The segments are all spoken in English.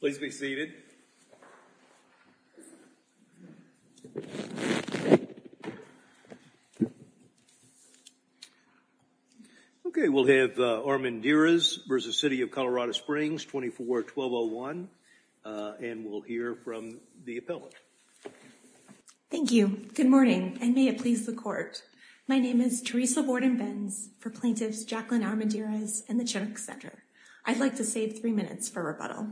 Please be seated. Okay, we'll have Armendariz v. City of Colorado Springs 24-1201. And we'll hear from the appellant. Thank you. Good morning, and may it please the court. My name is Teresa Borden-Benz for plaintiffs Jacqueline Armendariz and the Chiric Center. I'd like to save three minutes for rebuttal.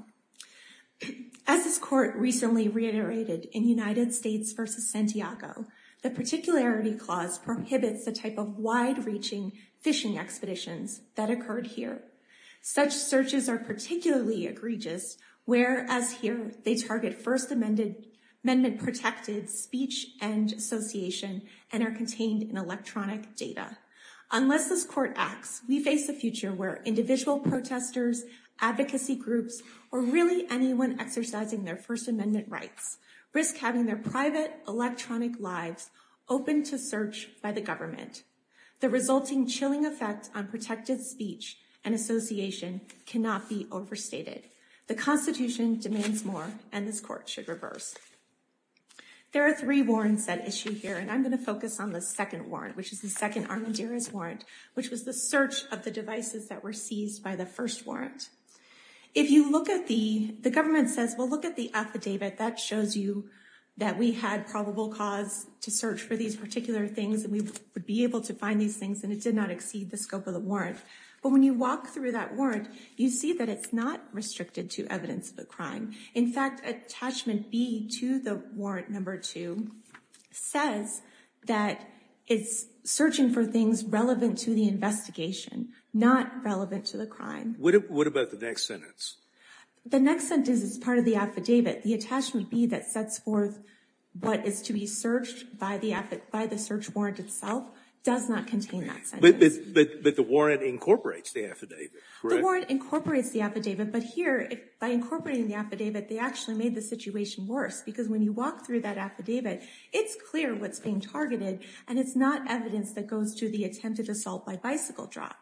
As this court recently reiterated in United States v. Santiago, the particularity clause prohibits the type of wide-reaching fishing expeditions that occurred here. Such searches are particularly egregious, whereas here they target First Amendment protected speech and association and are contained in electronic data. Unless this court acts, we face a future where individual protesters, advocacy groups, or really anyone exercising their First Amendment rights risk having their private electronic lives open to search by the government. The resulting chilling effect on protected speech and association cannot be overstated. The Constitution demands more, and this court should reverse. There are three warrants at issue here, and I'm going to focus on the second warrant, which is the second Armendariz warrant, which was the search of the devices that were seized by the first warrant. If you look at the, the government says, well, look at the affidavit, that shows you that we had probable cause to search for these particular things, and we would be able to find these things, and it did not exceed the scope of the warrant. But when you walk through that warrant, you see that it's not restricted to evidence of a crime. In fact, attachment B to the warrant number two says that it's searching for things relevant to the investigation, not relevant to the crime. What about the next sentence? The next sentence is part of the affidavit. The attachment B that sets forth what is to be searched by the search warrant itself does not contain that sentence. But the warrant incorporates the affidavit, correct? The warrant incorporates the affidavit, but here, by incorporating the affidavit, they actually made the situation worse, because when you walk through that affidavit, it's clear what's being targeted, and it's not evidence that goes to the attempted assault by bicycle drop.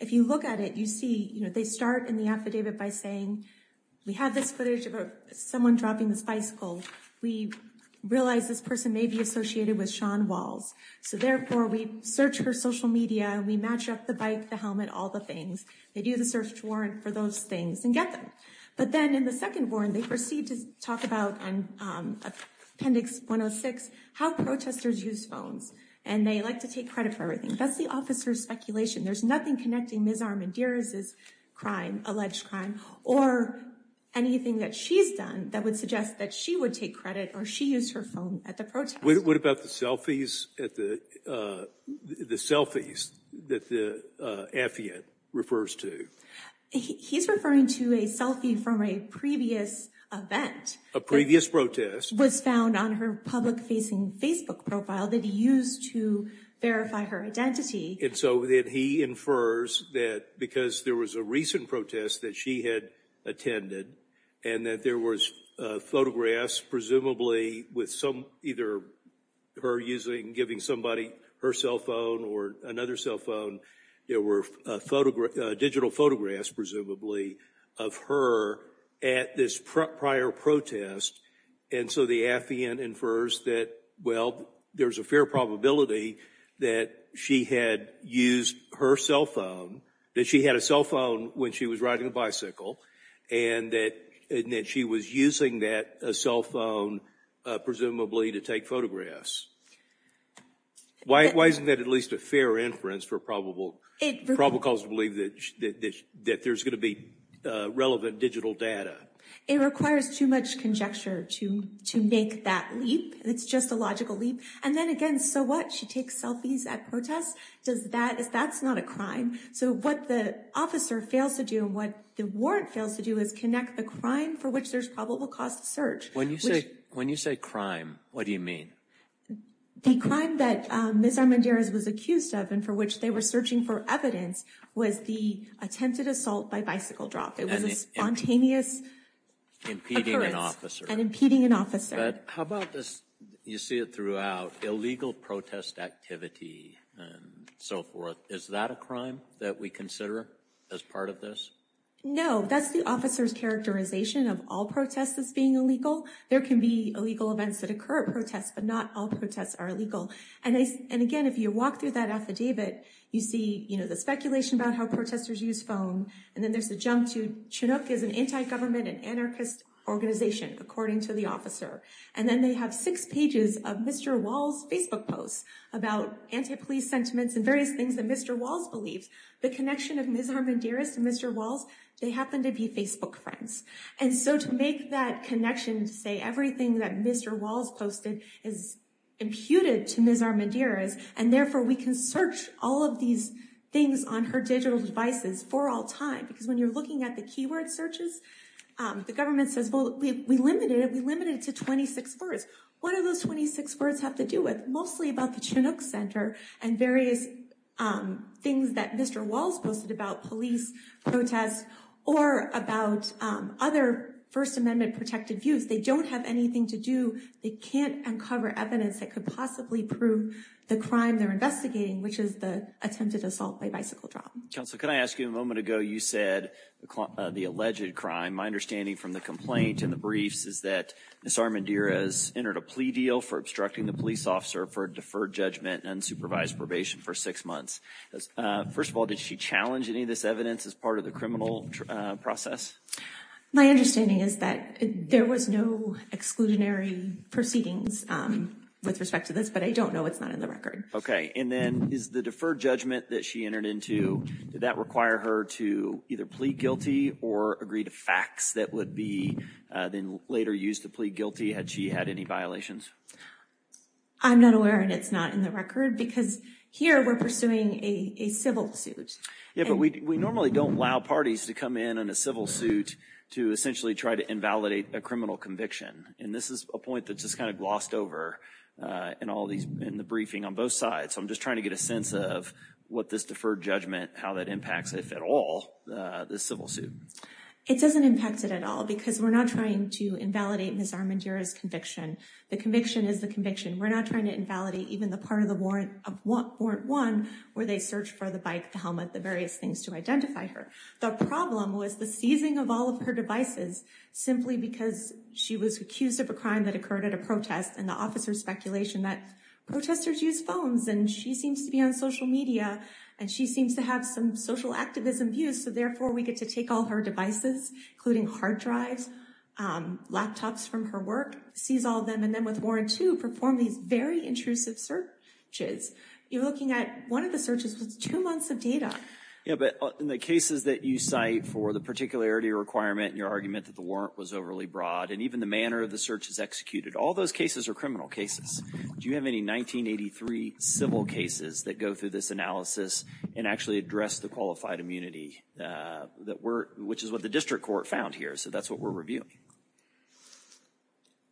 If you look at it, you see, you know, they start in the affidavit by saying, we have this footage of someone dropping this bicycle. We realize this person may be associated with Sean Walls. So therefore, we search her social media, we match up the bike, the helmet, all the things. They do the search warrant for those things and get them. But then in the second warrant, they proceed to talk about, in appendix 106, how protesters use phones, and they like to take credit for everything. That's the officer's speculation. There's nothing connecting Ms. Armendariz's crime, alleged crime, or anything that she's done that would suggest that she would take credit or she used her phone at the protest. What about the selfies that the affidavit refers to? He's referring to a selfie from a previous event. A previous protest. Was found on her public-facing Facebook profile that he used to verify her identity. And so then he infers that because there was a recent protest that she had attended, and that there was photographs, presumably, with some, either her using, giving somebody her cell phone or another cell phone, there were photographs, digital photographs, presumably, of her at this prior protest. And so the affidavit infers that, well, there's a fair probability that she had used her cell phone, that she had a cell phone when she was riding a bicycle, and that she was using that cell phone, presumably, to take photographs. Why isn't that at least a fair inference for probable cause to believe that there's going to be relevant digital data? It requires too much conjecture to make that leap. It's just a logical leap. And then again, so what? She takes selfies at protests. Does that, that's not a crime. So what the officer fails to do, and what the warrant fails to do, is connect the crime for which there's probable cause to search. When you say, when you say crime, what do you mean? The crime that Ms. Armendariz was accused of, and for which they were searching for evidence, was the attempted assault by bicycle drop. It was a spontaneous occurrence. Impeding an officer. And impeding an officer. But how about this, you see it throughout, illegal protest activity, and so forth. Is that a crime that we consider as part of this? No, that's the officer's characterization of all protests as being illegal. There can be illegal events that occur at protests, but not all protests are illegal. And again, if you walk through that affidavit, you see, you know, the speculation about how protesters use phone. And then there's the jump to Chinook is an anti-government and anarchist organization, according to the officer. And then they have six pages of Mr. Wall's beliefs. The connection of Ms. Armendariz to Mr. Walls, they happen to be Facebook friends. And so to make that connection, to say everything that Mr. Walls posted is imputed to Ms. Armendariz, and therefore we can search all of these things on her digital devices for all time. Because when you're looking at the keyword searches, the government says, well, we limited it. We limited it to 26 words. What do those 26 words have to do with? Mostly about the things that Mr. Walls posted about police protests or about other First Amendment protected views. They don't have anything to do. They can't uncover evidence that could possibly prove the crime they're investigating, which is the attempted assault by bicycle drop. Counsel, can I ask you a moment ago, you said the alleged crime. My understanding from the complaint and the briefs is that Ms. Armendariz entered a plea deal for obstructing the police officer for a deferred judgment and unsupervised probation for six months. First of all, did she challenge any of this evidence as part of the criminal process? My understanding is that there was no exclusionary proceedings with respect to this, but I don't know. It's not in the record. Okay. And then is the deferred judgment that she entered into, did that require her to either plead guilty or agree to facts that would be then later used to plead guilty had she had any violations? I'm not aware and it's not in the record because here we're pursuing a civil suit. Yeah, but we normally don't allow parties to come in on a civil suit to essentially try to invalidate a criminal conviction. And this is a point that just kind of glossed over in all these in the briefing on both sides. So I'm just trying to get a sense of what this deferred judgment, how that impacts, if at all, this civil suit. It doesn't impact it at all because we're not trying to invalidate Ms. Armandira's conviction. The conviction is the conviction. We're not trying to invalidate even the part of the Warrant 1 where they search for the bike, the helmet, the various things to identify her. The problem was the seizing of all of her devices simply because she was accused of a crime that occurred at a protest and the officers' speculation that protesters use phones and she seems to be on social media and she seems to have some social devices including hard drives, laptops from her work. Seize all of them and then with Warrant 2, perform these very intrusive searches. You're looking at one of the searches with two months of data. Yeah, but in the cases that you cite for the particularity requirement and your argument that the warrant was overly broad and even the manner of the searches executed, all those cases are criminal cases. Do you have any 1983 civil cases that go through this analysis and actually address the qualified immunity, which is what the district court found here, so that's what we're reviewing?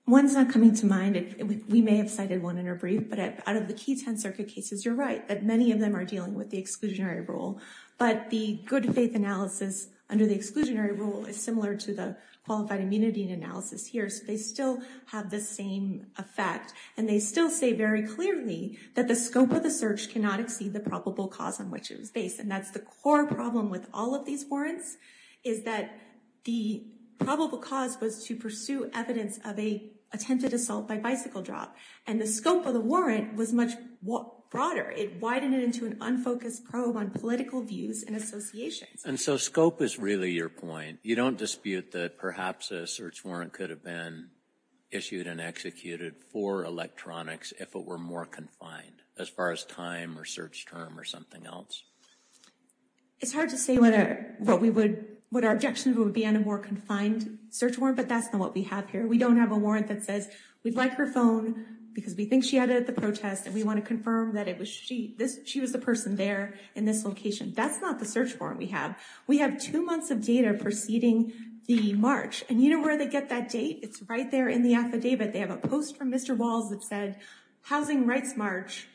One's not coming to mind. We may have cited one in our brief, but out of the key 10 circuit cases, you're right that many of them are dealing with the exclusionary rule, but the good faith analysis under the exclusionary rule is similar to the qualified immunity analysis here, so they still have the same effect and they still say very clearly that the scope of the search cannot exceed the probable cause on which it was based and that's the core problem with all of these warrants is that the probable cause was to pursue evidence of a attempted assault by bicycle drop and the scope of the warrant was much broader. It widened it into an unfocused probe on political views and associations. And so scope is really your point. You don't dispute that perhaps a search warrant could have been issued and executed for electronics if it were more confined as far as time or search term or something else. It's hard to say what our objections would be on a more confined search warrant, but that's not what we have here. We don't have a warrant that says we'd like her phone because we think she had it at the protest and we want to confirm that she was the person there in this location. That's not the search warrant we have. We have two months of data preceding the march and you know where they get that date? It's right there in the affidavit. They have a human rights march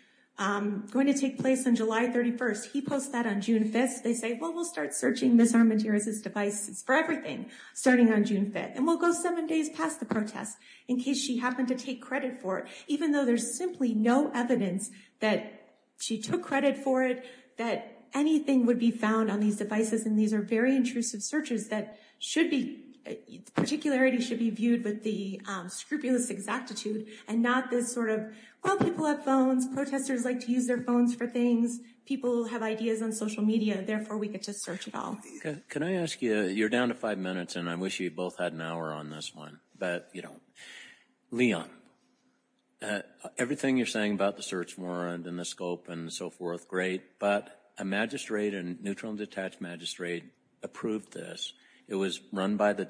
going to take place on July 31st. He posts that on June 5th. They say well we'll start searching Ms. Armenteras' devices for everything starting on June 5th and we'll go seven days past the protest in case she happened to take credit for it even though there's simply no evidence that she took credit for it, that anything would be found on these devices and these are very intrusive searches that should be, particularity should be viewed with the scrupulous exactitude and not this sort of, well people have phones, protesters like to use their phones for things, people have ideas on social media, therefore we get to search it all. Can I ask you, you're down to five minutes and I wish you both had an hour on this one, but you don't. Leon, everything you're saying about the search warrant and the scope and so forth, great, but a magistrate and neutral and detached magistrate approved this. It was run by the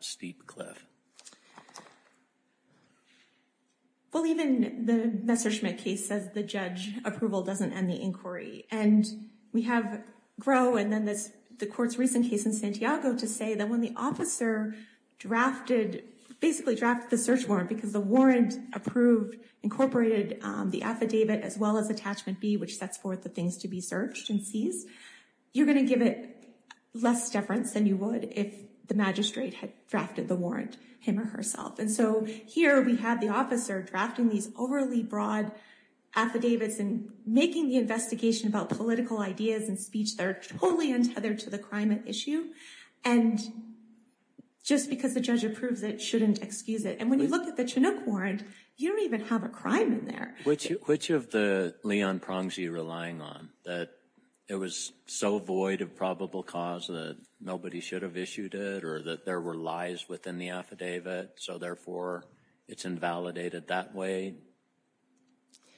Steve Cliff. Well even the Messerschmitt case says the judge approval doesn't end the inquiry and we have Gros and then this the court's recent case in Santiago to say that when the officer drafted, basically drafted the search warrant because the warrant approved incorporated the affidavit as well as attachment B which sets forth the things to be searched and seized, you're going to give it less deference than you would if the magistrate had drafted the warrant him or herself and so here we have the officer drafting these overly broad affidavits and making the investigation about political ideas and speech that are totally untethered to the crime at issue and just because the judge approves it shouldn't excuse it and when you look at the Chinook warrant, you don't even have a crime in there. Which of the Leon Prongs you relying on that it was so void of probable cause that nobody should have issued it or that there were lies within the affidavit so therefore it's invalidated that way?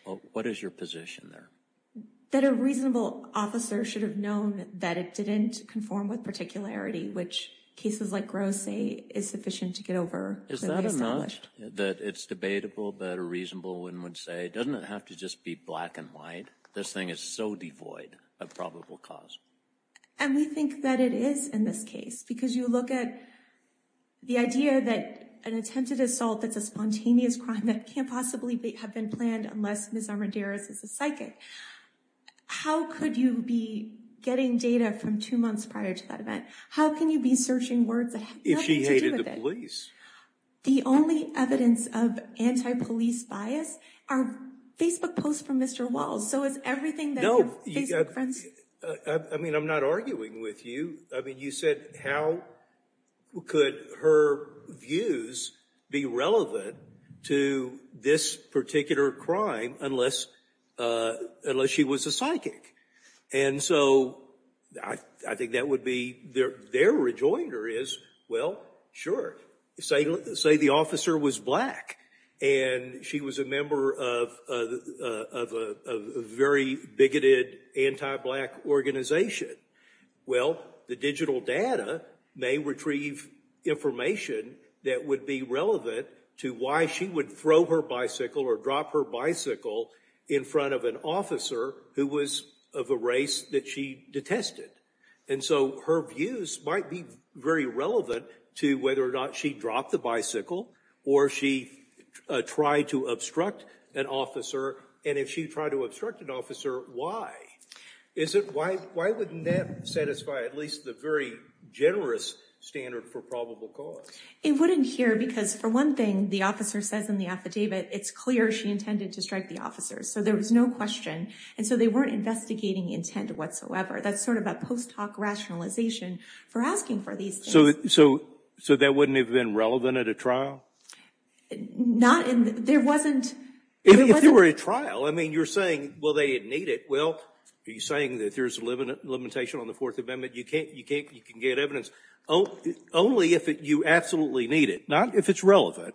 Well what is your position there? That a reasonable officer should have known that it didn't conform with particularity which cases like Gros say is sufficient to get over. Is that enough that it's debatable that a reasonable one would say doesn't it have to just be black and white this thing is so devoid of probable cause? And we think that it is in this case because you look at the idea that an attempted assault that's a spontaneous crime that can't possibly have been planned unless Ms. Armendariz is a psychic. How could you be getting data from two months prior to that event? How can you be searching words that have nothing to do with it? If she hated the police. The only evidence of anti-police bias are Facebook posts from Mr. Walls. So is everything that your Facebook friends... I mean I'm not arguing with you. I mean you said how could her views be relevant to this particular crime unless she was a psychic? And so I think that would be their rejoinder well sure say the officer was black and she was a member of a very bigoted anti-black organization. Well the digital data may retrieve information that would be relevant to why she would throw her bicycle or drop her bicycle in front of an officer who was of a race that she detested. And so her views might be very relevant to whether or not she dropped the bicycle or she tried to obstruct an officer. And if she tried to obstruct an officer why? Why wouldn't that satisfy at least the very generous standard for probable cause? It wouldn't here because for one thing the officer says in the affidavit it's clear she intended to strike the officers. So there was no question and so they weren't investigating intent whatsoever. That's sort of a post hoc rationalization for asking for these things. So that wouldn't have been relevant at a trial? Not in there wasn't. If there were a trial I mean you're saying well they didn't need it. Well are you saying that there's a limit limitation on the fourth amendment you can't you can't you can get evidence only if you absolutely need it not if it's relevant.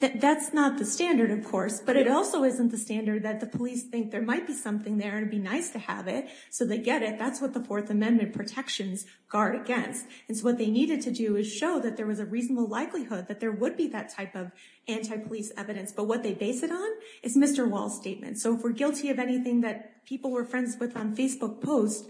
That's not the standard of course but it also isn't the standard that the police think there might be something there and it'd be nice to have it so they get it that's what the fourth amendment protections guard against. And so what they needed to do is show that there was a reasonable likelihood that there would be that type of anti-police evidence but what they base it on is Mr. Wall's statement. So if we're guilty of anything that people were friends with on Facebook post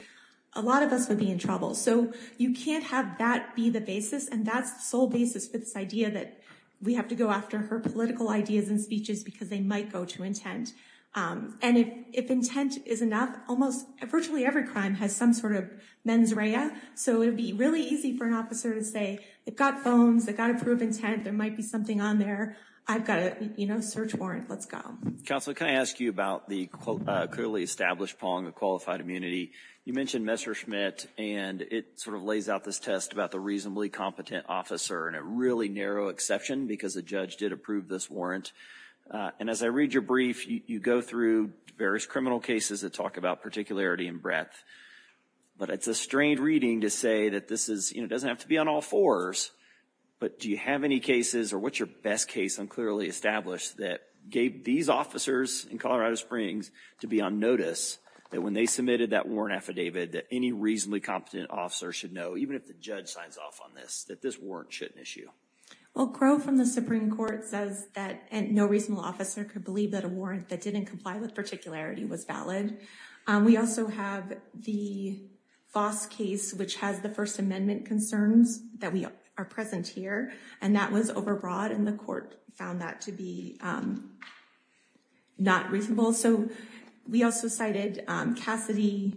a lot of us would be in trouble. So you can't have that be the basis and that's the sole basis for this idea that we have to go after her political ideas and speeches because they might go to intent. And if intent is enough almost virtually every crime has some sort of mens rea. So it'd be really easy for an officer to say they've got phones they've got to prove intent there might be something on there I've got a you know search warrant let's go. Counselor can I ask you about the clearly established pong of qualified immunity. You mentioned Mr. Schmidt and it sort of lays out this test about the reasonably competent officer and a really narrow exception because the judge did approve this warrant. And as I read your brief you go through various criminal cases that talk about particularity and breadth. But it's a strained reading to say that this is you know doesn't have to be on all fours but do you have any cases or what's your best case unclearly established that gave these officers in Colorado Springs to be on notice that when they submitted that warrant affidavit that any reasonably competent officer should know even if the judge signs off on this that this warrant shouldn't issue? Well Crow from the Supreme Court says that no reasonable officer could believe that a warrant that didn't comply with particularity was valid. We also have the Foss case which has the first amendment concerns that we are present here and that was overbroad and the Supreme Court found that to be not reasonable. So we also cited Cassidy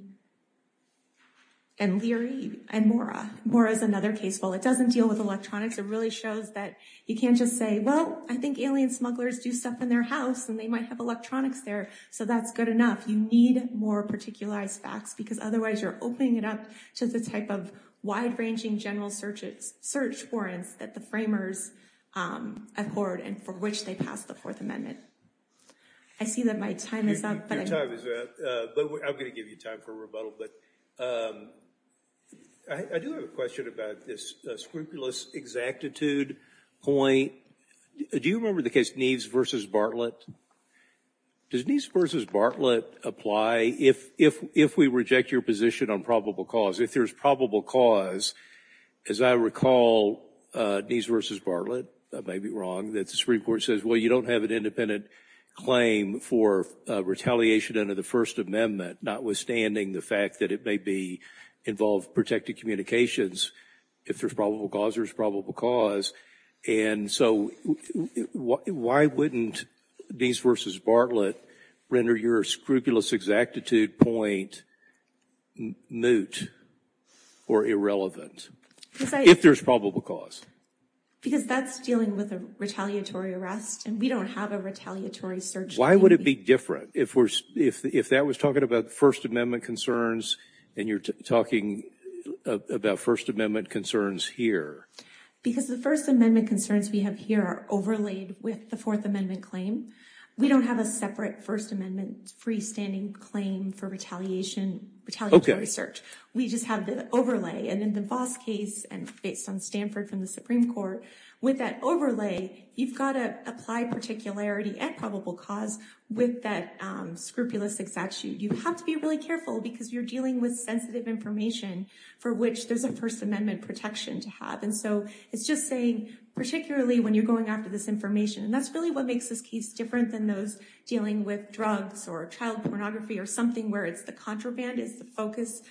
and Leary and Mora. Mora is another case. While it doesn't deal with electronics it really shows that you can't just say well I think alien smugglers do stuff in their house and they might have electronics there so that's good enough. You need more particularized facts because otherwise you're opening it up to the type of wide-ranging general search warrants the framers accord and for which they passed the fourth amendment. I see that my time is up. I'm going to give you time for rebuttal but I do have a question about this scrupulous exactitude point. Do you remember the case Neves versus Bartlett? Does Neves versus Bartlett apply if we reject your position on probable cause? If there's probable cause, as I recall, Neves versus Bartlett, I may be wrong, that the Supreme Court says well you don't have an independent claim for retaliation under the first amendment notwithstanding the fact that it may involve protected communications. If there's probable cause there's probable cause and so why wouldn't Neves versus Bartlett render your scrupulous exactitude point moot or irrelevant if there's probable cause? Because that's dealing with a retaliatory arrest and we don't have a retaliatory search. Why would it be different if that was talking about first amendment concerns and you're talking about first amendment concerns here? Because the first amendment concerns we have here are overlaid with the fourth claim for retaliatory search. We just have the overlay and in the Neves case and based on Stanford from the Supreme Court, with that overlay you've got to apply particularity at probable cause with that scrupulous exactitude. You have to be really careful because you're dealing with sensitive information for which there's a first amendment protection to have and so it's just saying particularly when you're going after this information and that's really what makes this case different than those dealing with drugs or child pornography or something where it's the contraband is the focus.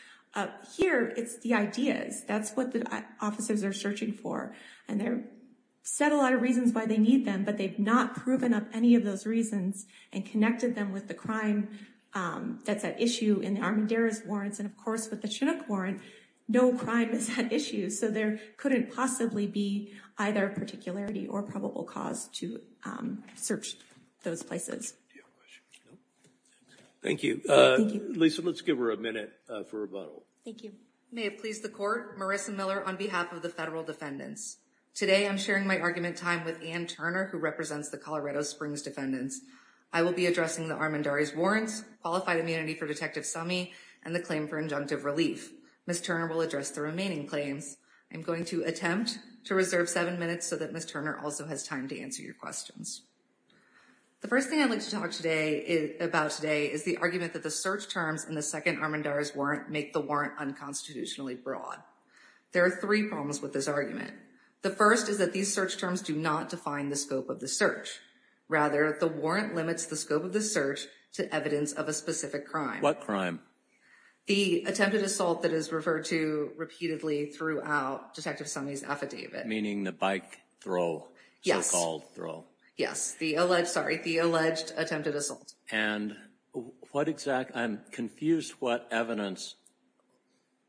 Here it's the ideas. That's what the officers are searching for and they've said a lot of reasons why they need them but they've not proven up any of those reasons and connected them with the crime that's at issue in the Armendariz warrants and of course with the Chinook warrant no crime is at issue so there couldn't possibly be either particularity or probable cause to search those places. Thank you. Lisa, let's give her a minute for rebuttal. Thank you. May it please the court, Marissa Miller on behalf of the federal defendants. Today I'm sharing my argument time with Ann Turner who represents the Colorado Springs defendants. I will be addressing the Armendariz warrants, qualified immunity for Detective Summey and the claim for injunctive relief. Ms. Turner will address the remaining claims. I'm going to attempt to reserve seven minutes so that Ms. Turner also has time to answer your questions. The first thing I'd like to talk about today is the argument that the search terms in the second Armendariz warrant make the warrant unconstitutionally broad. There are three problems with this argument. The first is that these search terms do not define the scope of the search. Rather the warrant limits the scope of the search to evidence of a specific crime. What crime? The attempted assault that is referred to repeatedly throughout Detective Summey's affidavit. Meaning the bike throw, so-called throw. Yes, the alleged, sorry, the alleged attempted assault. And what exact, I'm confused what evidence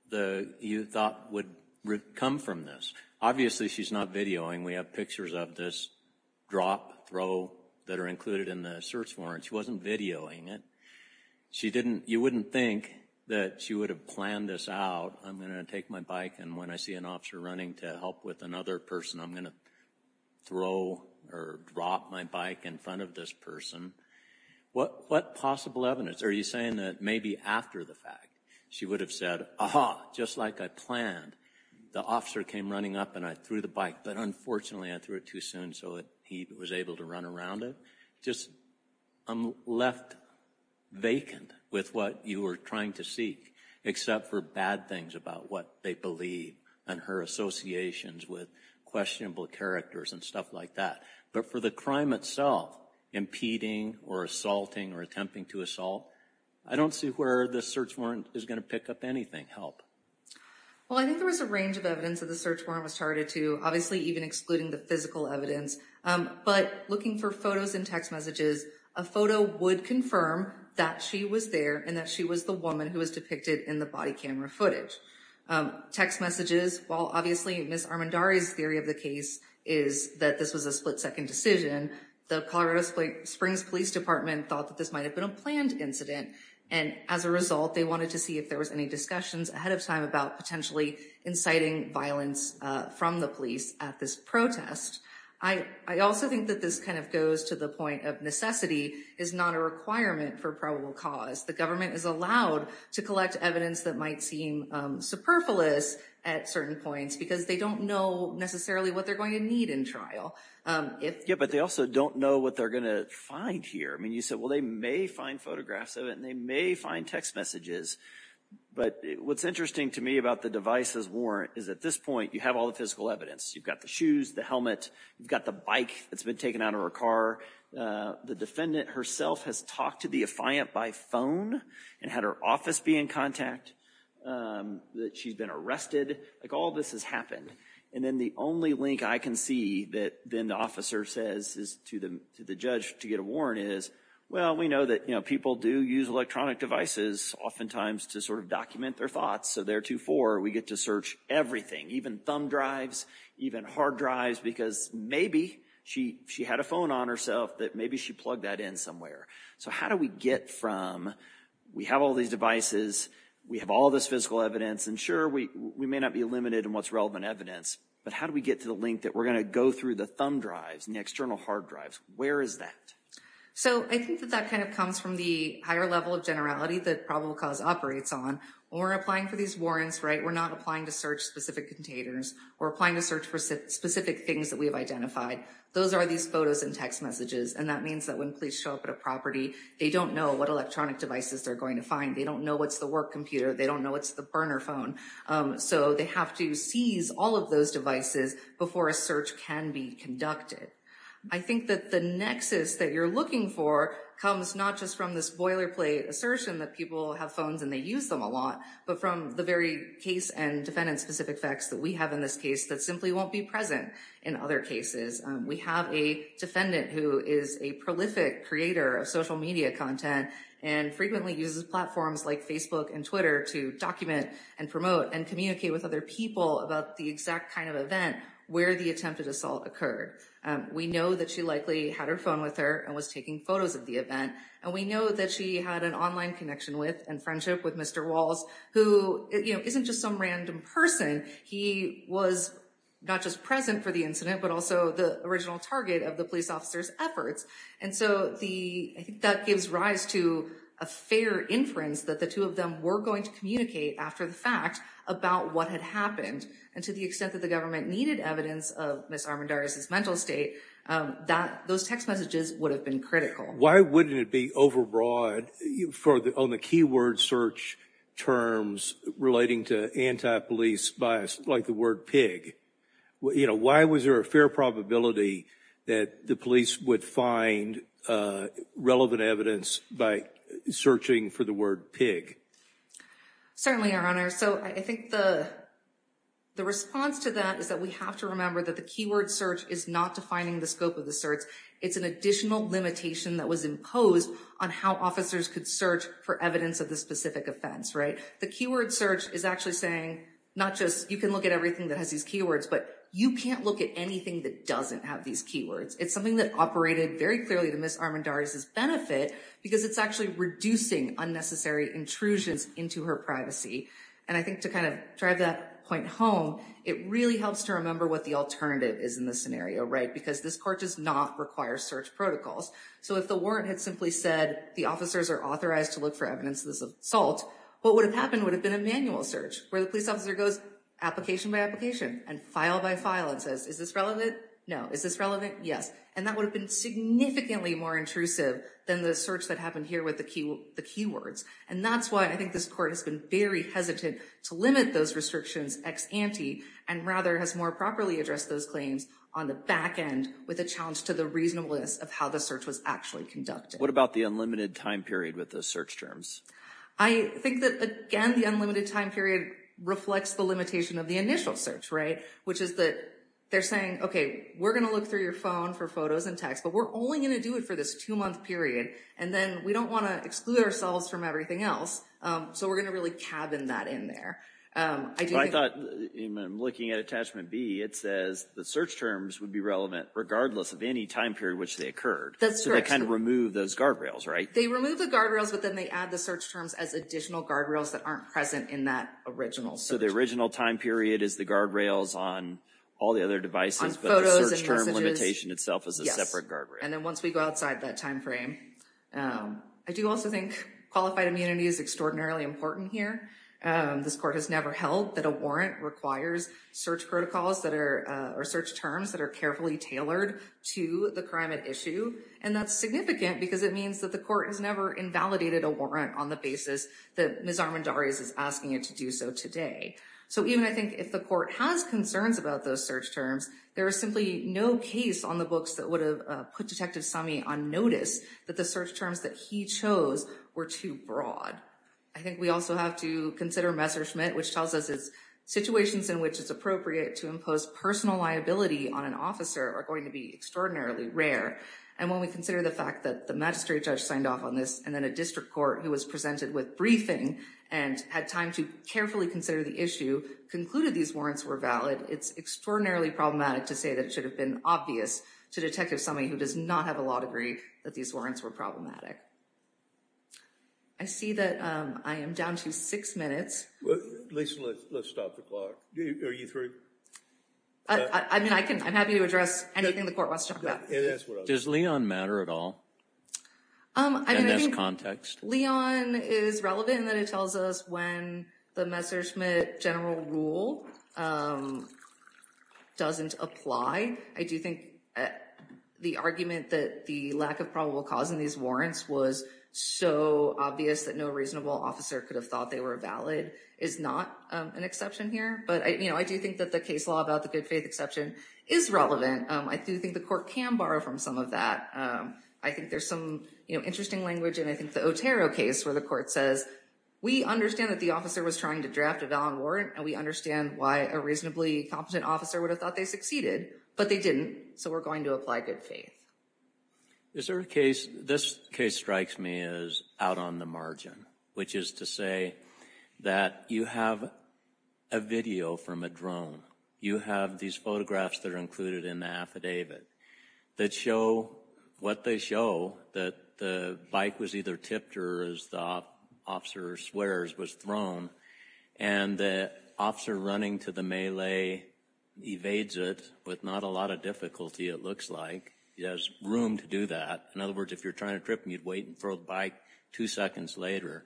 the, you thought would come from this. Obviously she's not videoing. We have pictures of this drop throw that are included in the search warrant. She wasn't videoing it. She didn't, you wouldn't think that she would have planned this out. I'm going to take my bike and when I see an officer running to help with another person, I'm going to throw or drop my bike in front of this person. What possible evidence? Are you saying that maybe after the fact she would have said, aha, just like I planned. The officer came running up and I threw the bike, but unfortunately I threw it too soon so that he was able to run around it. Just I'm left vacant with what you were trying to seek, except for bad things about what they believe and her associations with questionable characters and stuff like that. But for the crime itself, impeding or assaulting or attempting to assault, I don't see where the search warrant is going to pick up anything help. Well, I think there was a range of evidence that search warrant was targeted to, obviously even excluding the physical evidence. But looking for photos and text messages, a photo would confirm that she was there and that she was the woman who was depicted in the body camera footage. Text messages, while obviously Ms. Armendariz's theory of the case is that this was a split second decision, the Colorado Springs Police Department thought that this might have been a planned incident. And as a result, they wanted to see if there was any discussions ahead of time about potentially inciting violence from the police at this protest. I also think that this kind of goes to the point of necessity is not a requirement for probable cause. The government is allowed to collect evidence that might seem superfluous at certain points because they don't know necessarily what they're going to need in trial. Yeah, but they also don't know what they're going to find here. I mean, you said, well, they may find photographs of it and they may find text messages. But what's interesting to me about the device's warrant is at this point, you have all the physical evidence. You've got the shoes, the helmet, you've got the bike that's been taken out of her car. The defendant herself has talked to the affiant by phone and had her office be in contact that she's been arrested. Like, all this has happened. And then the only link I can see that then the officer says to the judge to get a warrant is, well, we know that people do use electronic devices oftentimes to sort of document their thoughts. So theretofore, we get to search everything, even thumb drives, even hard drives, because maybe she she had a phone on herself that maybe she plugged that in somewhere. So how do we get from we have all these devices, we have all this physical evidence, and sure, we may not be limited in what's relevant evidence. But how do we get to the link that we're going to go through the thumb drives and the external hard drives? Where is that? So I think that that kind of comes from the higher level of generality that probable cause operates on or applying for these warrants, right? We're not applying to search specific containers or applying to search for specific things that we have identified. Those are these photos and text messages. And that means that when police show up at a property, they don't know what electronic devices they're going to find. They don't know what's the work computer. They don't know what's the burner phone. So they have to seize all of those devices before a search can be conducted. I think that the nexus that you're looking for comes not just from this boilerplate assertion that people have phones and they use them a lot, but from the very case and defendant-specific facts that we have in this case that simply won't be present in other cases. We have a defendant who is a prolific creator of social media content and frequently uses platforms like Facebook and Twitter to document and promote and communicate with other people about the exact kind of event where the attempted assault occurred. We know that she likely had her phone with her and was taking photos of the event. And we know that she had an online connection with and friendship with Mr. Walls, who isn't just some random person. He was not just present for the incident, but also the original target of the police officer's efforts. And so I think that gives rise to a fair inference that the two of them were going to communicate after the fact about what had happened. And to the extent that the government needed evidence of Ms. Armendariz's mental state, those text messages would have been critical. Why wouldn't it be overbroad on the keyword search terms relating to anti-police bias like the word pig? Why was there a fair probability that the police would find relevant evidence by searching for the word pig? Certainly, your honor. So I think the response to that is that we have to remember that the keyword search is not defining the scope of the search. It's an additional limitation that was imposed on how officers could search for evidence of the specific offense, right? The keyword search is actually saying not just you can look at everything that has these keywords, but you can't look at anything that doesn't have these keywords. It's something that operated very clearly to Ms. Armendariz's benefit because it's actually reducing unnecessary intrusions into her privacy. And I think to kind of drive that point home, it really helps to remember what the alternative is in this scenario, right? Because this court does not require search protocols. So if the warrant had simply said the officers are authorized to look for evidence of this assault, what would have happened would have been a manual search where the police officer goes application by application and file by file and is this relevant? No. Is this relevant? Yes. And that would have been significantly more intrusive than the search that happened here with the keywords. And that's why I think this court has been very hesitant to limit those restrictions ex ante and rather has more properly addressed those claims on the back end with a challenge to the reasonableness of how the search was actually conducted. What about the unlimited time period with the search terms? I think that, again, the unlimited time period reflects the limitation of the initial search, right? Which is that they're saying, okay, we're going to look through your phone for photos and text, but we're only going to do it for this two-month period. And then we don't want to exclude ourselves from everything else. So we're going to really cabin that in there. I thought, looking at attachment B, it says the search terms would be relevant regardless of any time period which they occurred. That's true. So they kind of remove those guardrails, right? They remove the guardrails, but then they add the search terms as additional guardrails that aren't present in original search. So the original time period is the guardrails on all the other devices, but the search term limitation itself is a separate guardrail. Yes. And then once we go outside that time frame. I do also think qualified immunity is extraordinarily important here. This court has never held that a warrant requires search terms that are carefully tailored to the crime at issue. And that's significant because it means that the court has never invalidated a warrant on the basis that Ms. Armendariz is asking you to do so today. So even I think if the court has concerns about those search terms, there is simply no case on the books that would have put Detective Summey on notice that the search terms that he chose were too broad. I think we also have to consider Messerschmitt, which tells us it's situations in which it's appropriate to impose personal liability on an officer are going to be extraordinarily rare. And when we consider the fact that the magistrate judge signed off on this and then a district court who was presented with briefing and had time to carefully consider the issue concluded these warrants were valid, it's extraordinarily problematic to say that it should have been obvious to Detective Summey who does not have a law degree that these warrants were problematic. I see that I am down to six minutes. Lisa, let's stop the clock. Are you through? I mean, I'm happy to address anything the court wants to talk about. Does Leon matter at all in this context? Leon is relevant in that it tells us when the Messerschmitt general rule doesn't apply. I do think the argument that the lack of probable cause in these warrants was so obvious that no reasonable officer could have thought they were valid is not an exception here. But I do think that the case law about the good faith exception is relevant. I do think the court can borrow from some of that. I think there's some interesting language and I think the Otero case where the court says, we understand that the officer was trying to draft a valid warrant and we understand why a reasonably competent officer would have thought they succeeded, but they didn't. So we're going to apply good faith. Is there a case, this case strikes me as out on the margin, which is to say that you have a video from a drone. You have these photographs that are included in the affidavit that show what they show, that the bike was either tipped or as the officer swears was thrown. And the officer running to the melee evades it with not a lot of difficulty, it looks like. He has room to do that. In other words, if you're trying to trip and you'd wait and throw the bike two seconds later,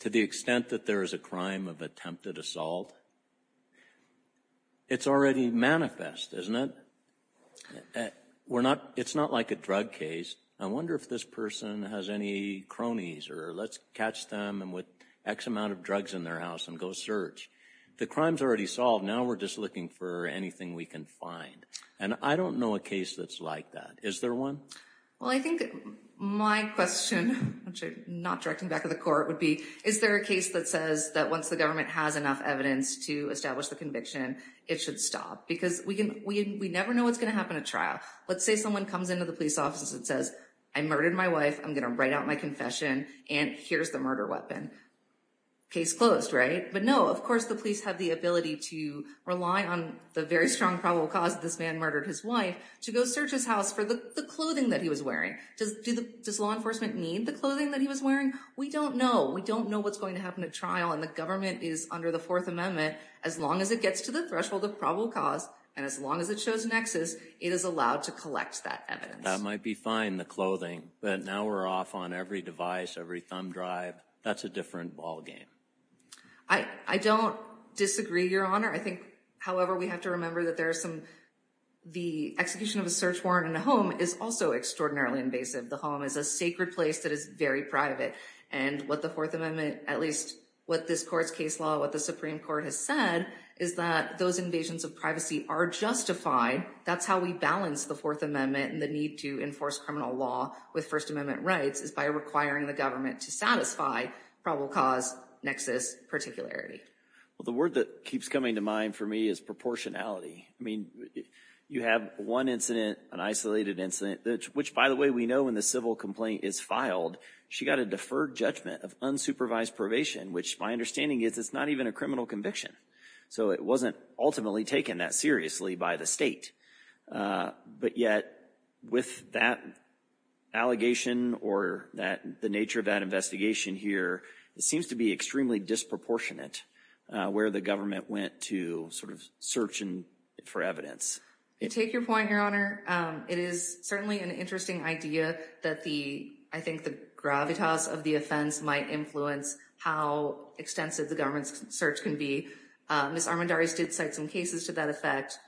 to the extent that there is a crime of attempted assault, it's already manifest, isn't it? It's not like a drug case. I wonder if this person has any cronies or let's catch them with X amount of drugs in their house and go search. The crime's already solved. Now we're just looking for anything we can find. And I don't know a case that's like that. Is there one? Well, I think my question, which I'm not directing back to the court, would be, is there a case that says that once the government has enough evidence to establish the conviction, it should stop? Because we never know what's going to happen at trial. Let's say someone comes into the police office and says, I murdered my wife. I'm going to write out my confession and here's the murder weapon. Case closed, right? But no, of course the police have the ability to rely on the very strong probable cause that this man murdered his wife to go search his house for the clothing that he was wearing. Does law enforcement need the clothing that he was wearing? We don't know. We don't know what's going to happen at trial and the government is under the fourth amendment. As long as it gets to the threshold of probable cause and as long as it shows nexus, it is allowed to collect that evidence. That might be fine, the clothing, but now we're off on every device, every thumb drive. That's a different ball game. I don't disagree, Your Honor. I think, however, we have to remember that there are some, the execution of a search warrant in a home is also extraordinarily invasive. The home is a sacred place that is very private. And what the fourth amendment, at least what this court's case law, what the Supreme Court has said is that those invasions of privacy are justified. That's how we balance the fourth amendment and the need to enforce criminal law with first amendment rights is by requiring the government to satisfy probable cause nexus particularity. Well, the word that keeps coming to mind for me is proportionality. I mean, you have one incident, an isolated incident, which by the way, we know when the civil complaint is filed, she got a deferred judgment of unsupervised probation, which my understanding is it's not even a criminal conviction. So it wasn't ultimately taken that seriously by the state. But yet with that allegation or that the nature of that investigation here, it seems to be extremely disproportionate where the government went to sort of search for evidence. Take your point, Your Honor. It is certainly an interesting idea that I think the gravitas of the offense might influence how extensive the government's search can be. Ms. Armendariz did cite some cases to that effect.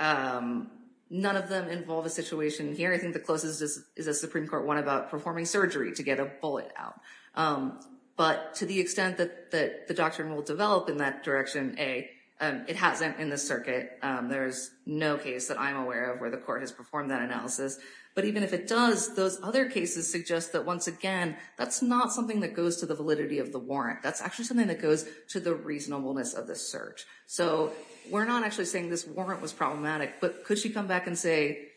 None of them involve a situation here. I think the closest is a Supreme Court one about performing surgery to get a bullet out. But to the extent that the doctrine will develop in that direction, A, it hasn't in the circuit. There's no case that I'm aware of where the court has performed that analysis. But even if it does, those other cases suggest that once again, that's not something that goes to the validity of the warrant. That's actually something that goes to the reasonableness of the search. So we're not actually saying this warrant was problematic, but could she come back and say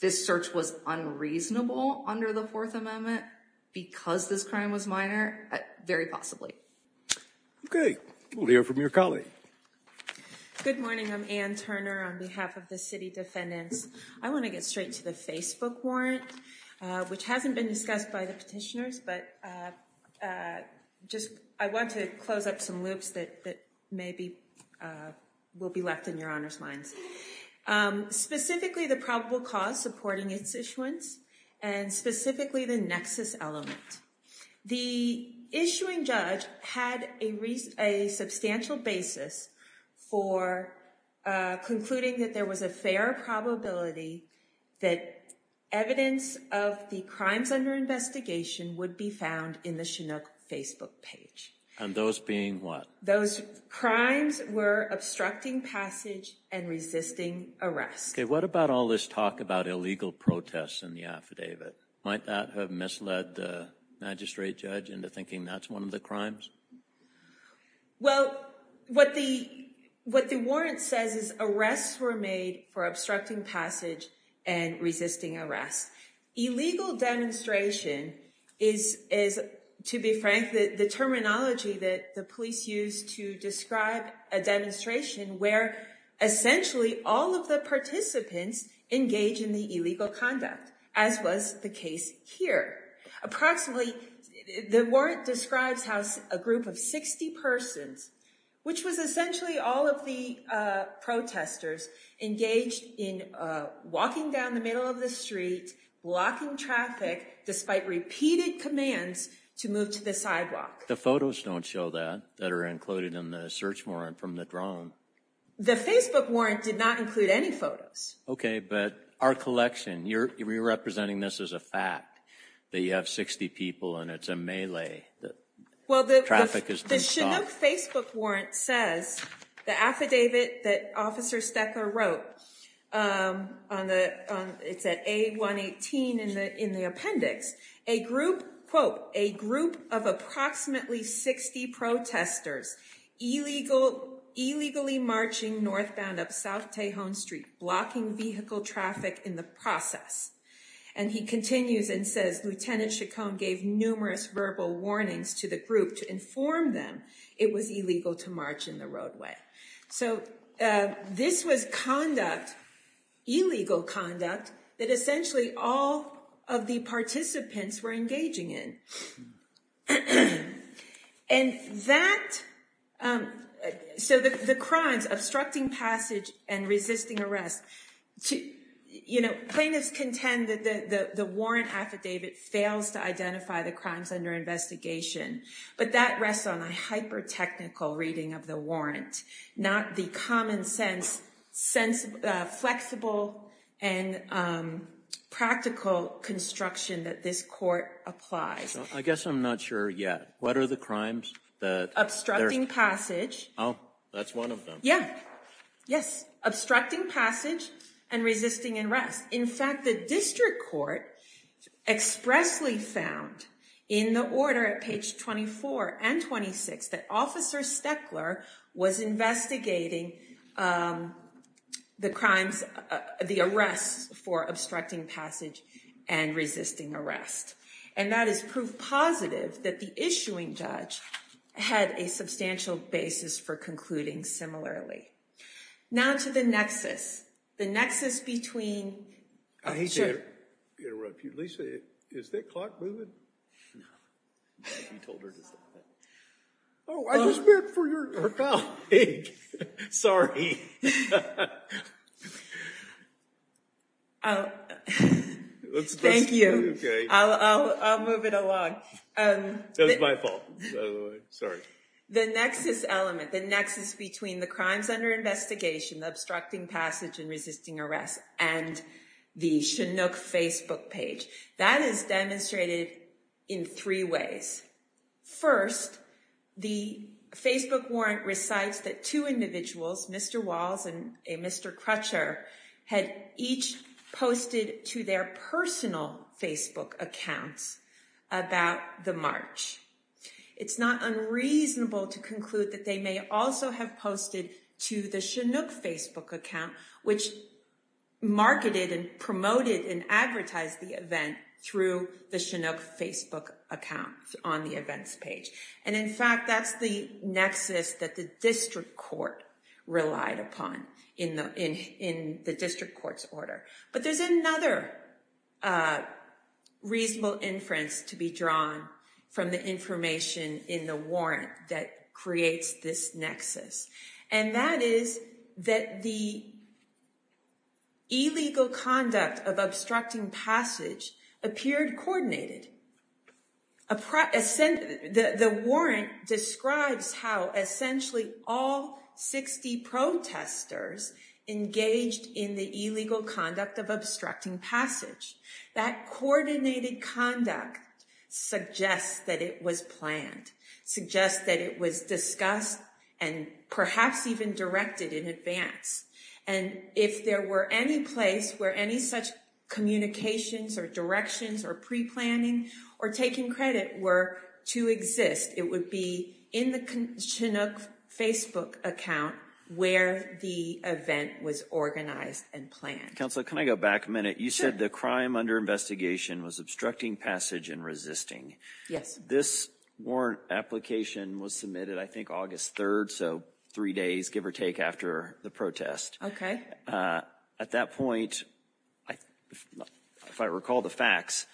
this search was unreasonable under the Fourth Amendment because this crime was minor? Very possibly. Okay. We'll hear from your colleague. Good morning. I'm Ann Turner on behalf of the city defendants. I want to get straight to the Facebook warrant, which hasn't been discussed by the petitioners, but I want to close up some loops that maybe will be left in Your Honor's hands. Specifically the probable cause supporting its issuance and specifically the nexus element. The issuing judge had a substantial basis for concluding that there was a fair probability that evidence of the crimes under investigation would be found in the Chinook Facebook page. And those being what? Those crimes were obstructing passage and resisting arrest. Okay. What about all this talk about illegal protests in the affidavit? Might that have misled the magistrate judge into thinking that's one of the crimes? Well, what the warrant says is arrests were made for obstructing passage and resisting arrest. Illegal demonstration is, to be frank, the terminology that the police use to describe a demonstration where essentially all of the participants engage in the illegal conduct, as was the case here. Approximately, the warrant describes how a group of 60 persons, which was essentially all of the protesters, engaged in walking down the middle of the street, blocking traffic despite repeated commands to move to the sidewalk. The photos don't show that, that are included in the search warrant from the drone. The Facebook warrant did not include any photos. Okay, but our collection, you're representing this as a fact, that you have 60 people and it's a melee. Traffic has been stopped. Well, the Chinook Facebook warrant says, the affidavit that Officer Steckler wrote, it's at A118 in the appendix, a group, quote, a group of approximately 60 protesters illegally marching northbound up South Tejon Street, blocking vehicle traffic in the process. And he continues and says, Lieutenant Chacon gave numerous verbal warnings to the group to inform them it was illegal to march in the roadway. So this was conduct, illegal conduct, that essentially all of the participants were engaging in. And that, so the crimes, obstructing passage and resisting arrest, plaintiffs contend that the warrant affidavit fails to identify the crimes under investigation, but that rests on a hyper-technical reading of the warrant, not the common sense, flexible and practical construction that this court applies. I guess I'm not sure yet. What are the crimes that- Obstructing passage. Oh, that's one of them. Yes. Obstructing passage and resisting arrest. In fact, the district court expressly found in the order at page 24 and 26 that Officer Steckler was investigating the crimes, the arrests for obstructing passage and resisting arrest. And that is proof positive that the judge had a substantial basis for concluding similarly. Now to the nexus, the nexus between- I hate to interrupt you. Lisa, is that clock moving? No. Oh, I just meant for your colleague. Sorry. Thank you. I'll move it along. That was my fault, by the way. Sorry. The nexus element, the nexus between the crimes under investigation, the obstructing passage and resisting arrest, and the Chinook Facebook page, that is demonstrated in three ways. First, the Facebook warrant recites that two individuals, Mr. Walls and Mr. Crutcher, had each posted to their personal Facebook accounts about the march. It's not unreasonable to conclude that they may also have posted to the Chinook Facebook account, which marketed and promoted and advertised the event through the Chinook Facebook account on the events page. And in fact, that's the nexus that the district court relied upon in the district court's order. But there's another reasonable inference to be drawn from the information in the warrant that creates this nexus. And that is that the illegal conduct of obstructing passage appeared coordinated. The warrant describes how essentially all 60 protesters engaged in the illegal conduct of obstructing passage. That coordinated conduct suggests that it was planned, suggests that it was discussed and perhaps even directed in advance. And if there were any place where any such communications or directions or pre-planning or taking credit were to exist, it would be in the Chinook Facebook account where the event was organized and planned. Counselor, can I go back a minute? You said the crime under investigation was obstructing passage and resisting. Yes. This warrant application was submitted, I think, August 3rd, so three days, give or take, after the protest. Okay. At that point, if I recall the facts,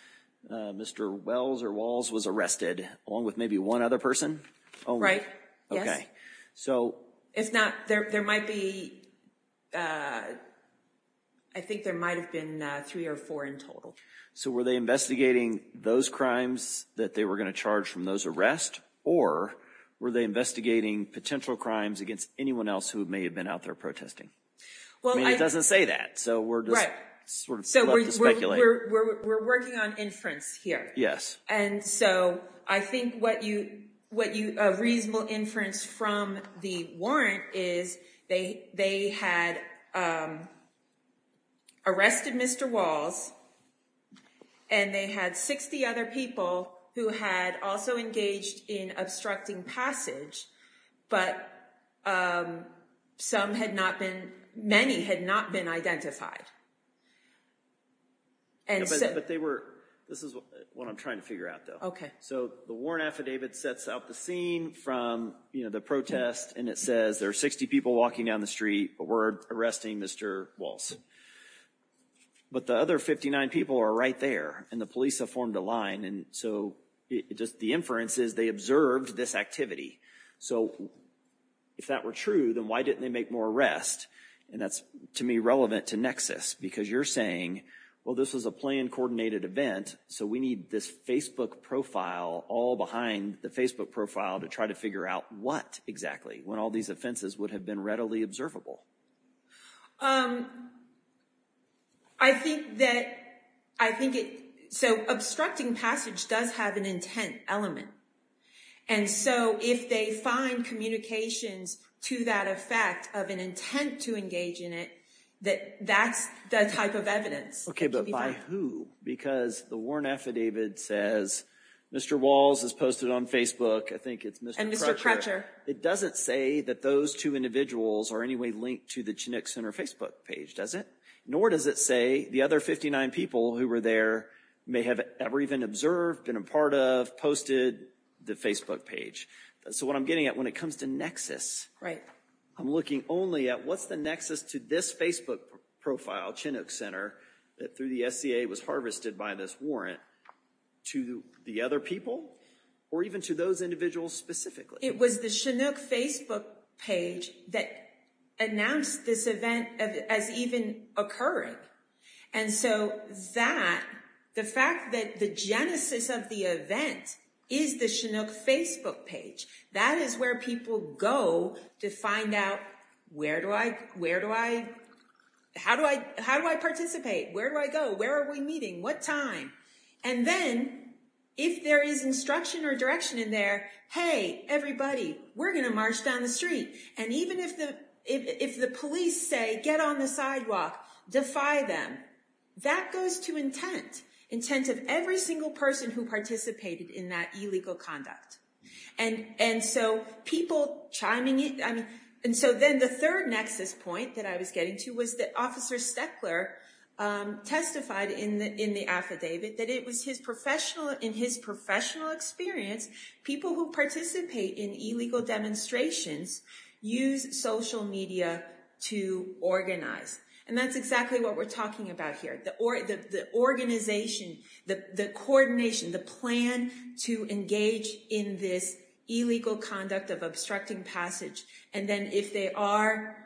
Mr. Wells or Walls was arrested along with maybe one other person? Right. Yes. Okay. So. If not, there might be, I think there might have been three or four in total. So were they investigating those crimes that they were going to charge from those arrests or were they investigating potential crimes against anyone else who may have been out there protesting? Well, I mean, it doesn't say that, so we're just sort of speculating. We're working on inference here. Yes. And so I think what you, what you, a reasonable inference from the warrant is they had arrested Mr. Walls and they had 60 other people who had also engaged in obstructing passage, but some had not been, many had not been identified. And so. But they were, this is what I'm trying to figure out though. Okay. So the warrant affidavit sets out the scene from, you know, the protest and it says there are 60 people walking down the street, were arresting Mr. Walls. But the other 59 people are right there and the police have formed a line. And so it just, the inference is they observed this activity. So if that were true, then why didn't they make more arrests? And that's to me relevant to Nexus because you're saying, well, this was a planned coordinated event. So we need this Facebook profile all behind the Facebook profile to try to figure out what exactly, when all these offenses would have been readily observable. I think that, I think it, so obstructing passage does have an intent element. And so if they find communications to that effect of an intent to engage in it, that that's the type of evidence. Okay. But by who? Because the warrant affidavit says Mr. Walls is posted on Facebook. I think it's Mr. Crutcher. It doesn't say that those two individuals are any way linked to the Chinook Center Facebook page, does it? Nor does it say the other 59 people who were there may have ever even observed, been a part of, posted the Facebook page. So what I'm getting at when it comes to Nexus, I'm looking only at what's the Nexus to this Facebook profile, Chinook Center, that through the SCA was harvested by this warrant to the other people or even to those individuals specifically? It was the Chinook Facebook page that announced this event as even occurring. And so that, the fact that the genesis of the event is the Chinook Facebook page. That is where people go to find out, where do I, where do I, how do I, how do I participate? Where do I go? Where are we meeting? What time? And then if there is instruction or direction in there, hey, everybody, we're going to march down the street. And even if the, if the police say, get on the sidewalk, defy them, that goes to intent, intent of every single person who participated in that illegal conduct. And, and so people chiming in. I mean, and so then the third Nexus point that I was getting to was that officer Steckler testified in the, in the affidavit that it was his professional, in his professional experience, people who participate in illegal demonstrations use social media to organize. And that's exactly what we're talking about here. The organization, the coordination, the plan to engage in this illegal conduct of obstructing passage. And then if they are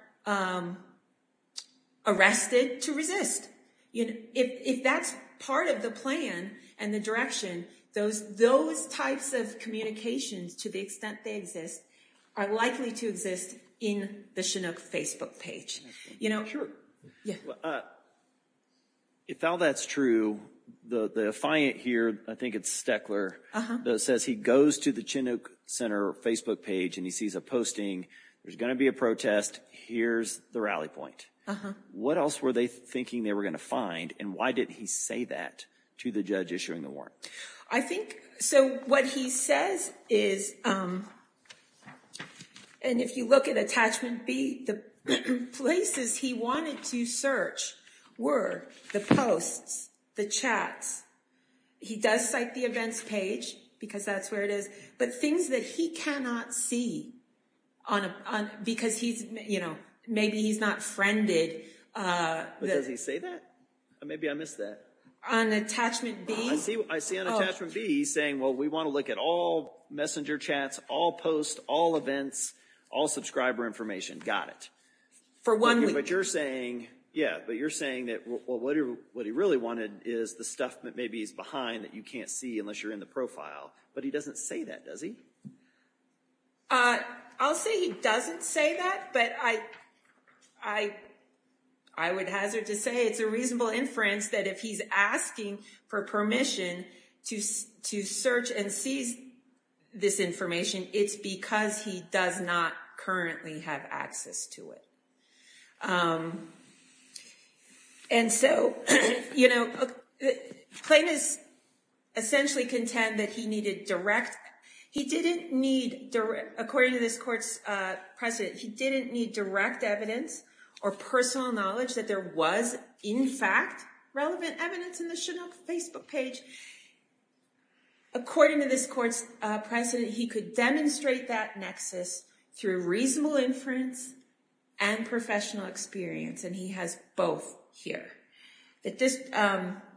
arrested to resist, you know, if, if that's part of the plan and the direction, those, those types of communications, to the extent they exist, are likely to exist in the Chinook Facebook page. You know, if all that's true, the, the affiant here, I think it's Steckler that says he goes to the Chinook Center Facebook page and he sees a posting, there's going to be a protest, here's the rally point. What else were they thinking they were going to find? And why did he say that to the judge issuing the warrant? I think, so what he says is, and if you look at attachment B, the places he wanted to search were the posts, the chats. He does cite the events page because that's where it is, but things that he cannot see on a, on, because he's, you know, maybe he's not friended. But does he say that? Maybe I missed that. On attachment B? I see, I see on attachment B, he's saying, well, we want to look at all messenger chats, all posts, all events, all subscriber information. Got it. For one week. But you're saying, yeah, but you're saying that, well, what he really wanted is the stuff that maybe he's behind that you can't see unless you're in the profile. But he doesn't say that, does he? I'll say he doesn't say that, but I, I, I would hazard to say it's a reasonable inference that if he's asking for permission to, to search and seize this information, it's because he does not currently have access to it. And so, you know, Clayton is essentially content that he needed direct, he didn't need direct, according to this court's president, he didn't need direct evidence or personal knowledge that there was in fact relevant evidence in the Chanel Facebook page. According to this court's president, he could demonstrate that nexus through reasonable inference and professional experience. And he has both here that this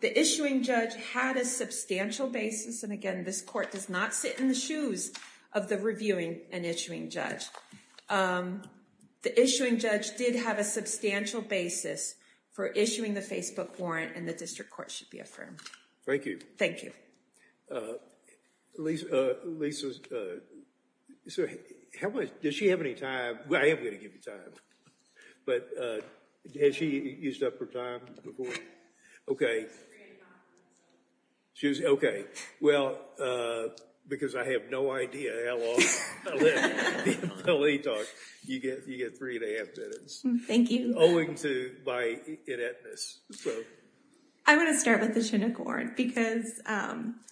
the issuing judge had a substantial basis, and again, this court does not sit in the shoes of the reviewing and issuing judge. The issuing judge did have a substantial basis for issuing the Facebook warrant, and the district court should be affirmed. Thank you. Thank you. Lisa, Lisa, so how much, does she have any time? Well, I am going to give you time. But has she used up her time before? Okay. Three and a half minutes. She's, okay. Well, because I have no idea how long I live, you get three and a half minutes. Thank you. Owing to my ineptness. I want to start with the Chinook warrant, because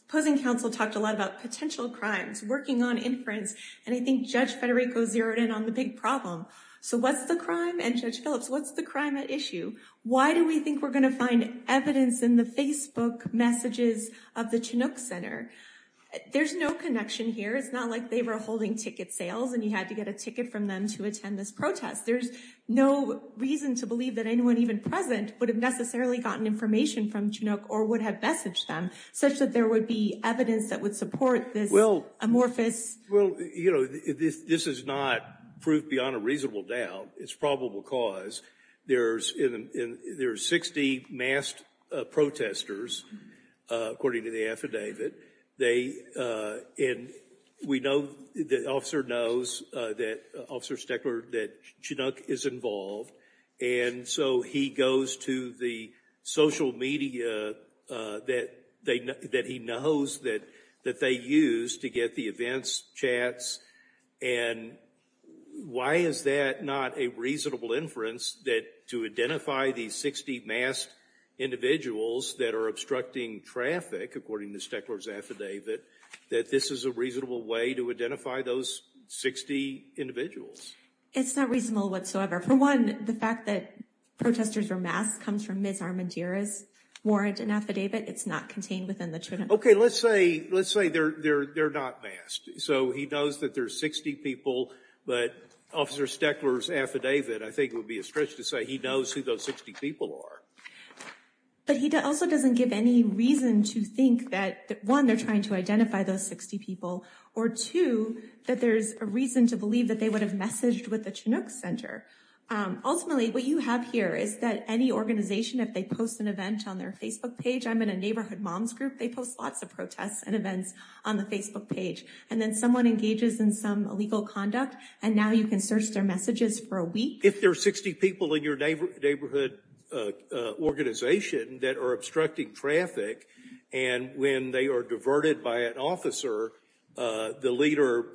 opposing counsel talked a lot about potential crimes, working on inference, and I think Judge Federico zeroed in on the big problem. So what's the crime? And Judge Phillips, what's the crime at issue? Why do we think we're going to find evidence in the Facebook messages of the Chinook Center? There's no connection here. It's not like they were holding ticket sales and you had to get a ticket from them to attend this protest. There's no reason to believe that anyone even present would have necessarily gotten information from Chinook or would have messaged them, such that there would be evidence that would support this amorphous- Well, you know, this is not proof beyond a reasonable doubt. It's probable cause. There's 60 masked protesters, according to the affidavit. They, and we know, the officer knows that, Officer Steckler, that Chinook is involved. And so he goes to the social media that he knows that they use to get the events chats. And why is that not a reasonable inference that to identify these 60 masked individuals that are obstructing traffic, according to Steckler's affidavit, that this is a reasonable way to identify those 60 individuals? It's not reasonable whatsoever. For one, the fact that protesters were masked comes from Ms. Armandira's warrant and affidavit. It's not contained within the Chinook- Okay, let's say they're not masked. So he knows that there's 60 people, but Officer Steckler's affidavit, I think it would be a stretch to say he knows who those 60 people are. But he also doesn't give any reason to think that, one, they're trying to identify those 60 people, or two, that there's a reason to believe that they would have messaged with the Chinook Center. Ultimately, what you have here is that any organization, if they post an event on their Facebook page, I'm in a neighborhood moms group, they post lots of protests and events on the Facebook page. And then someone engages in some illegal conduct, and now you can search their messages for a week. If there are 60 people in your neighborhood organization that are obstructing traffic, and when they are diverted by an officer, the leader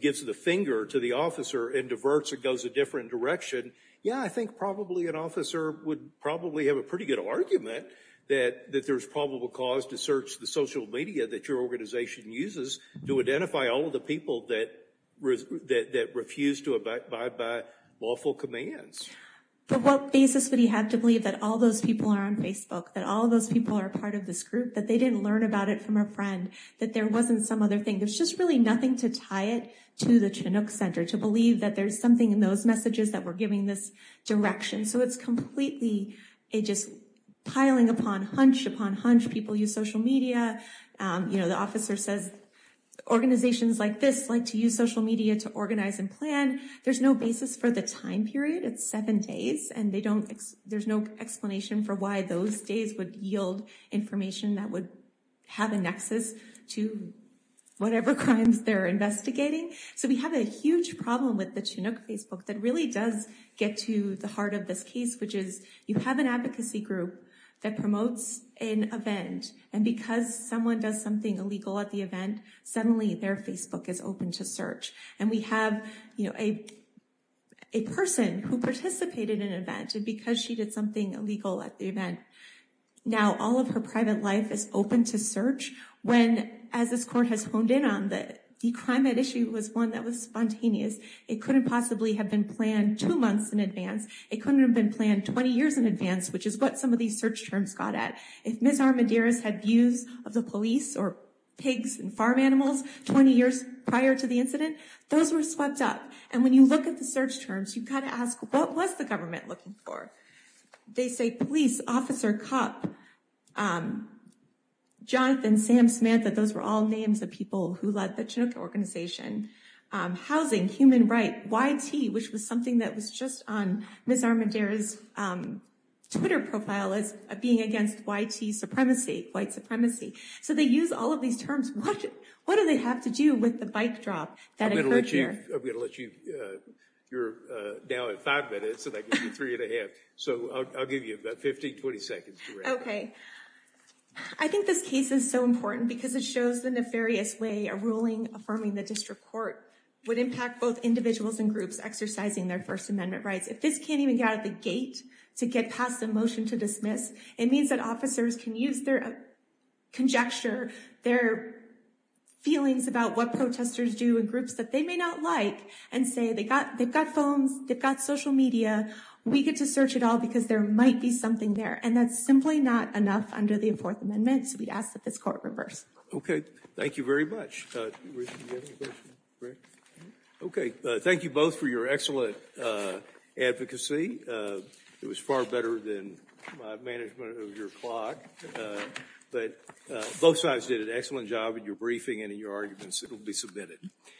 gives the finger to the officer and diverts or goes a different direction, yeah, I think probably an officer would probably have a pretty argument that there's probable cause to search the social media that your organization uses to identify all of the people that refuse to abide by lawful commands. But what basis would he have to believe that all those people are on Facebook, that all those people are part of this group, that they didn't learn about it from a friend, that there wasn't some other thing? There's just really nothing to tie it to the Chinook Center, to believe that there's something in those messages that we're giving this direction. So it's completely just piling upon hunch upon hunch, people use social media, the officer says organizations like this like to use social media to organize and plan. There's no basis for the time period, it's seven days, and there's no explanation for why those days would yield information that would have a nexus to whatever crimes they're investigating. So we have a huge problem with the Chinook Facebook that really does get to the heart of this case, which is you have an advocacy group that promotes an event, and because someone does something illegal at the event, suddenly their Facebook is open to search. And we have a person who participated in an event because she did something illegal at the event. Now all of her private life is open to search when, as this court has honed in on, that the crime at issue was one that was spontaneous. It couldn't possibly have been planned two months in advance, it couldn't have been planned 20 years in advance, which is what some of these search terms got at. If Ms. Armadiris had views of the police or pigs and farm animals 20 years prior to the incident, those were swept up. And when you look at the search terms, you kind of ask, what was the government looking for? They say police, officer, cop, Jonathan, Sam, Samantha, those were all names of people who led the Chinook organization. Housing, human rights, YT, which was something that was just on Ms. Armadiris' Twitter profile as being against YT supremacy, white supremacy. So they use all of these terms. What do they have to do with the bike drop that occurred here? I'm going to let you, you're now at five minutes and I give you three and a half. So I'll give you about 15, 20 seconds. Okay. I think this case is so important because it shows the nefarious way a ruling affirming the district court would impact both individuals and groups exercising their first amendment rights. If this can't even get out of the gate to get past the motion to dismiss, it means that officers can use their conjecture, their feelings about what protesters do in groups that they may not like and say, they've got phones, they've got social media. We get to search it all because there might be something there. And that's simply not enough under the fourth amendment. So we'd ask that this court reverse. Thank you very much. Okay. Thank you both for your excellent advocacy. It was far better than my management of your clock, but both sides did an excellent job in your briefing and in your arguments. It will be submitted.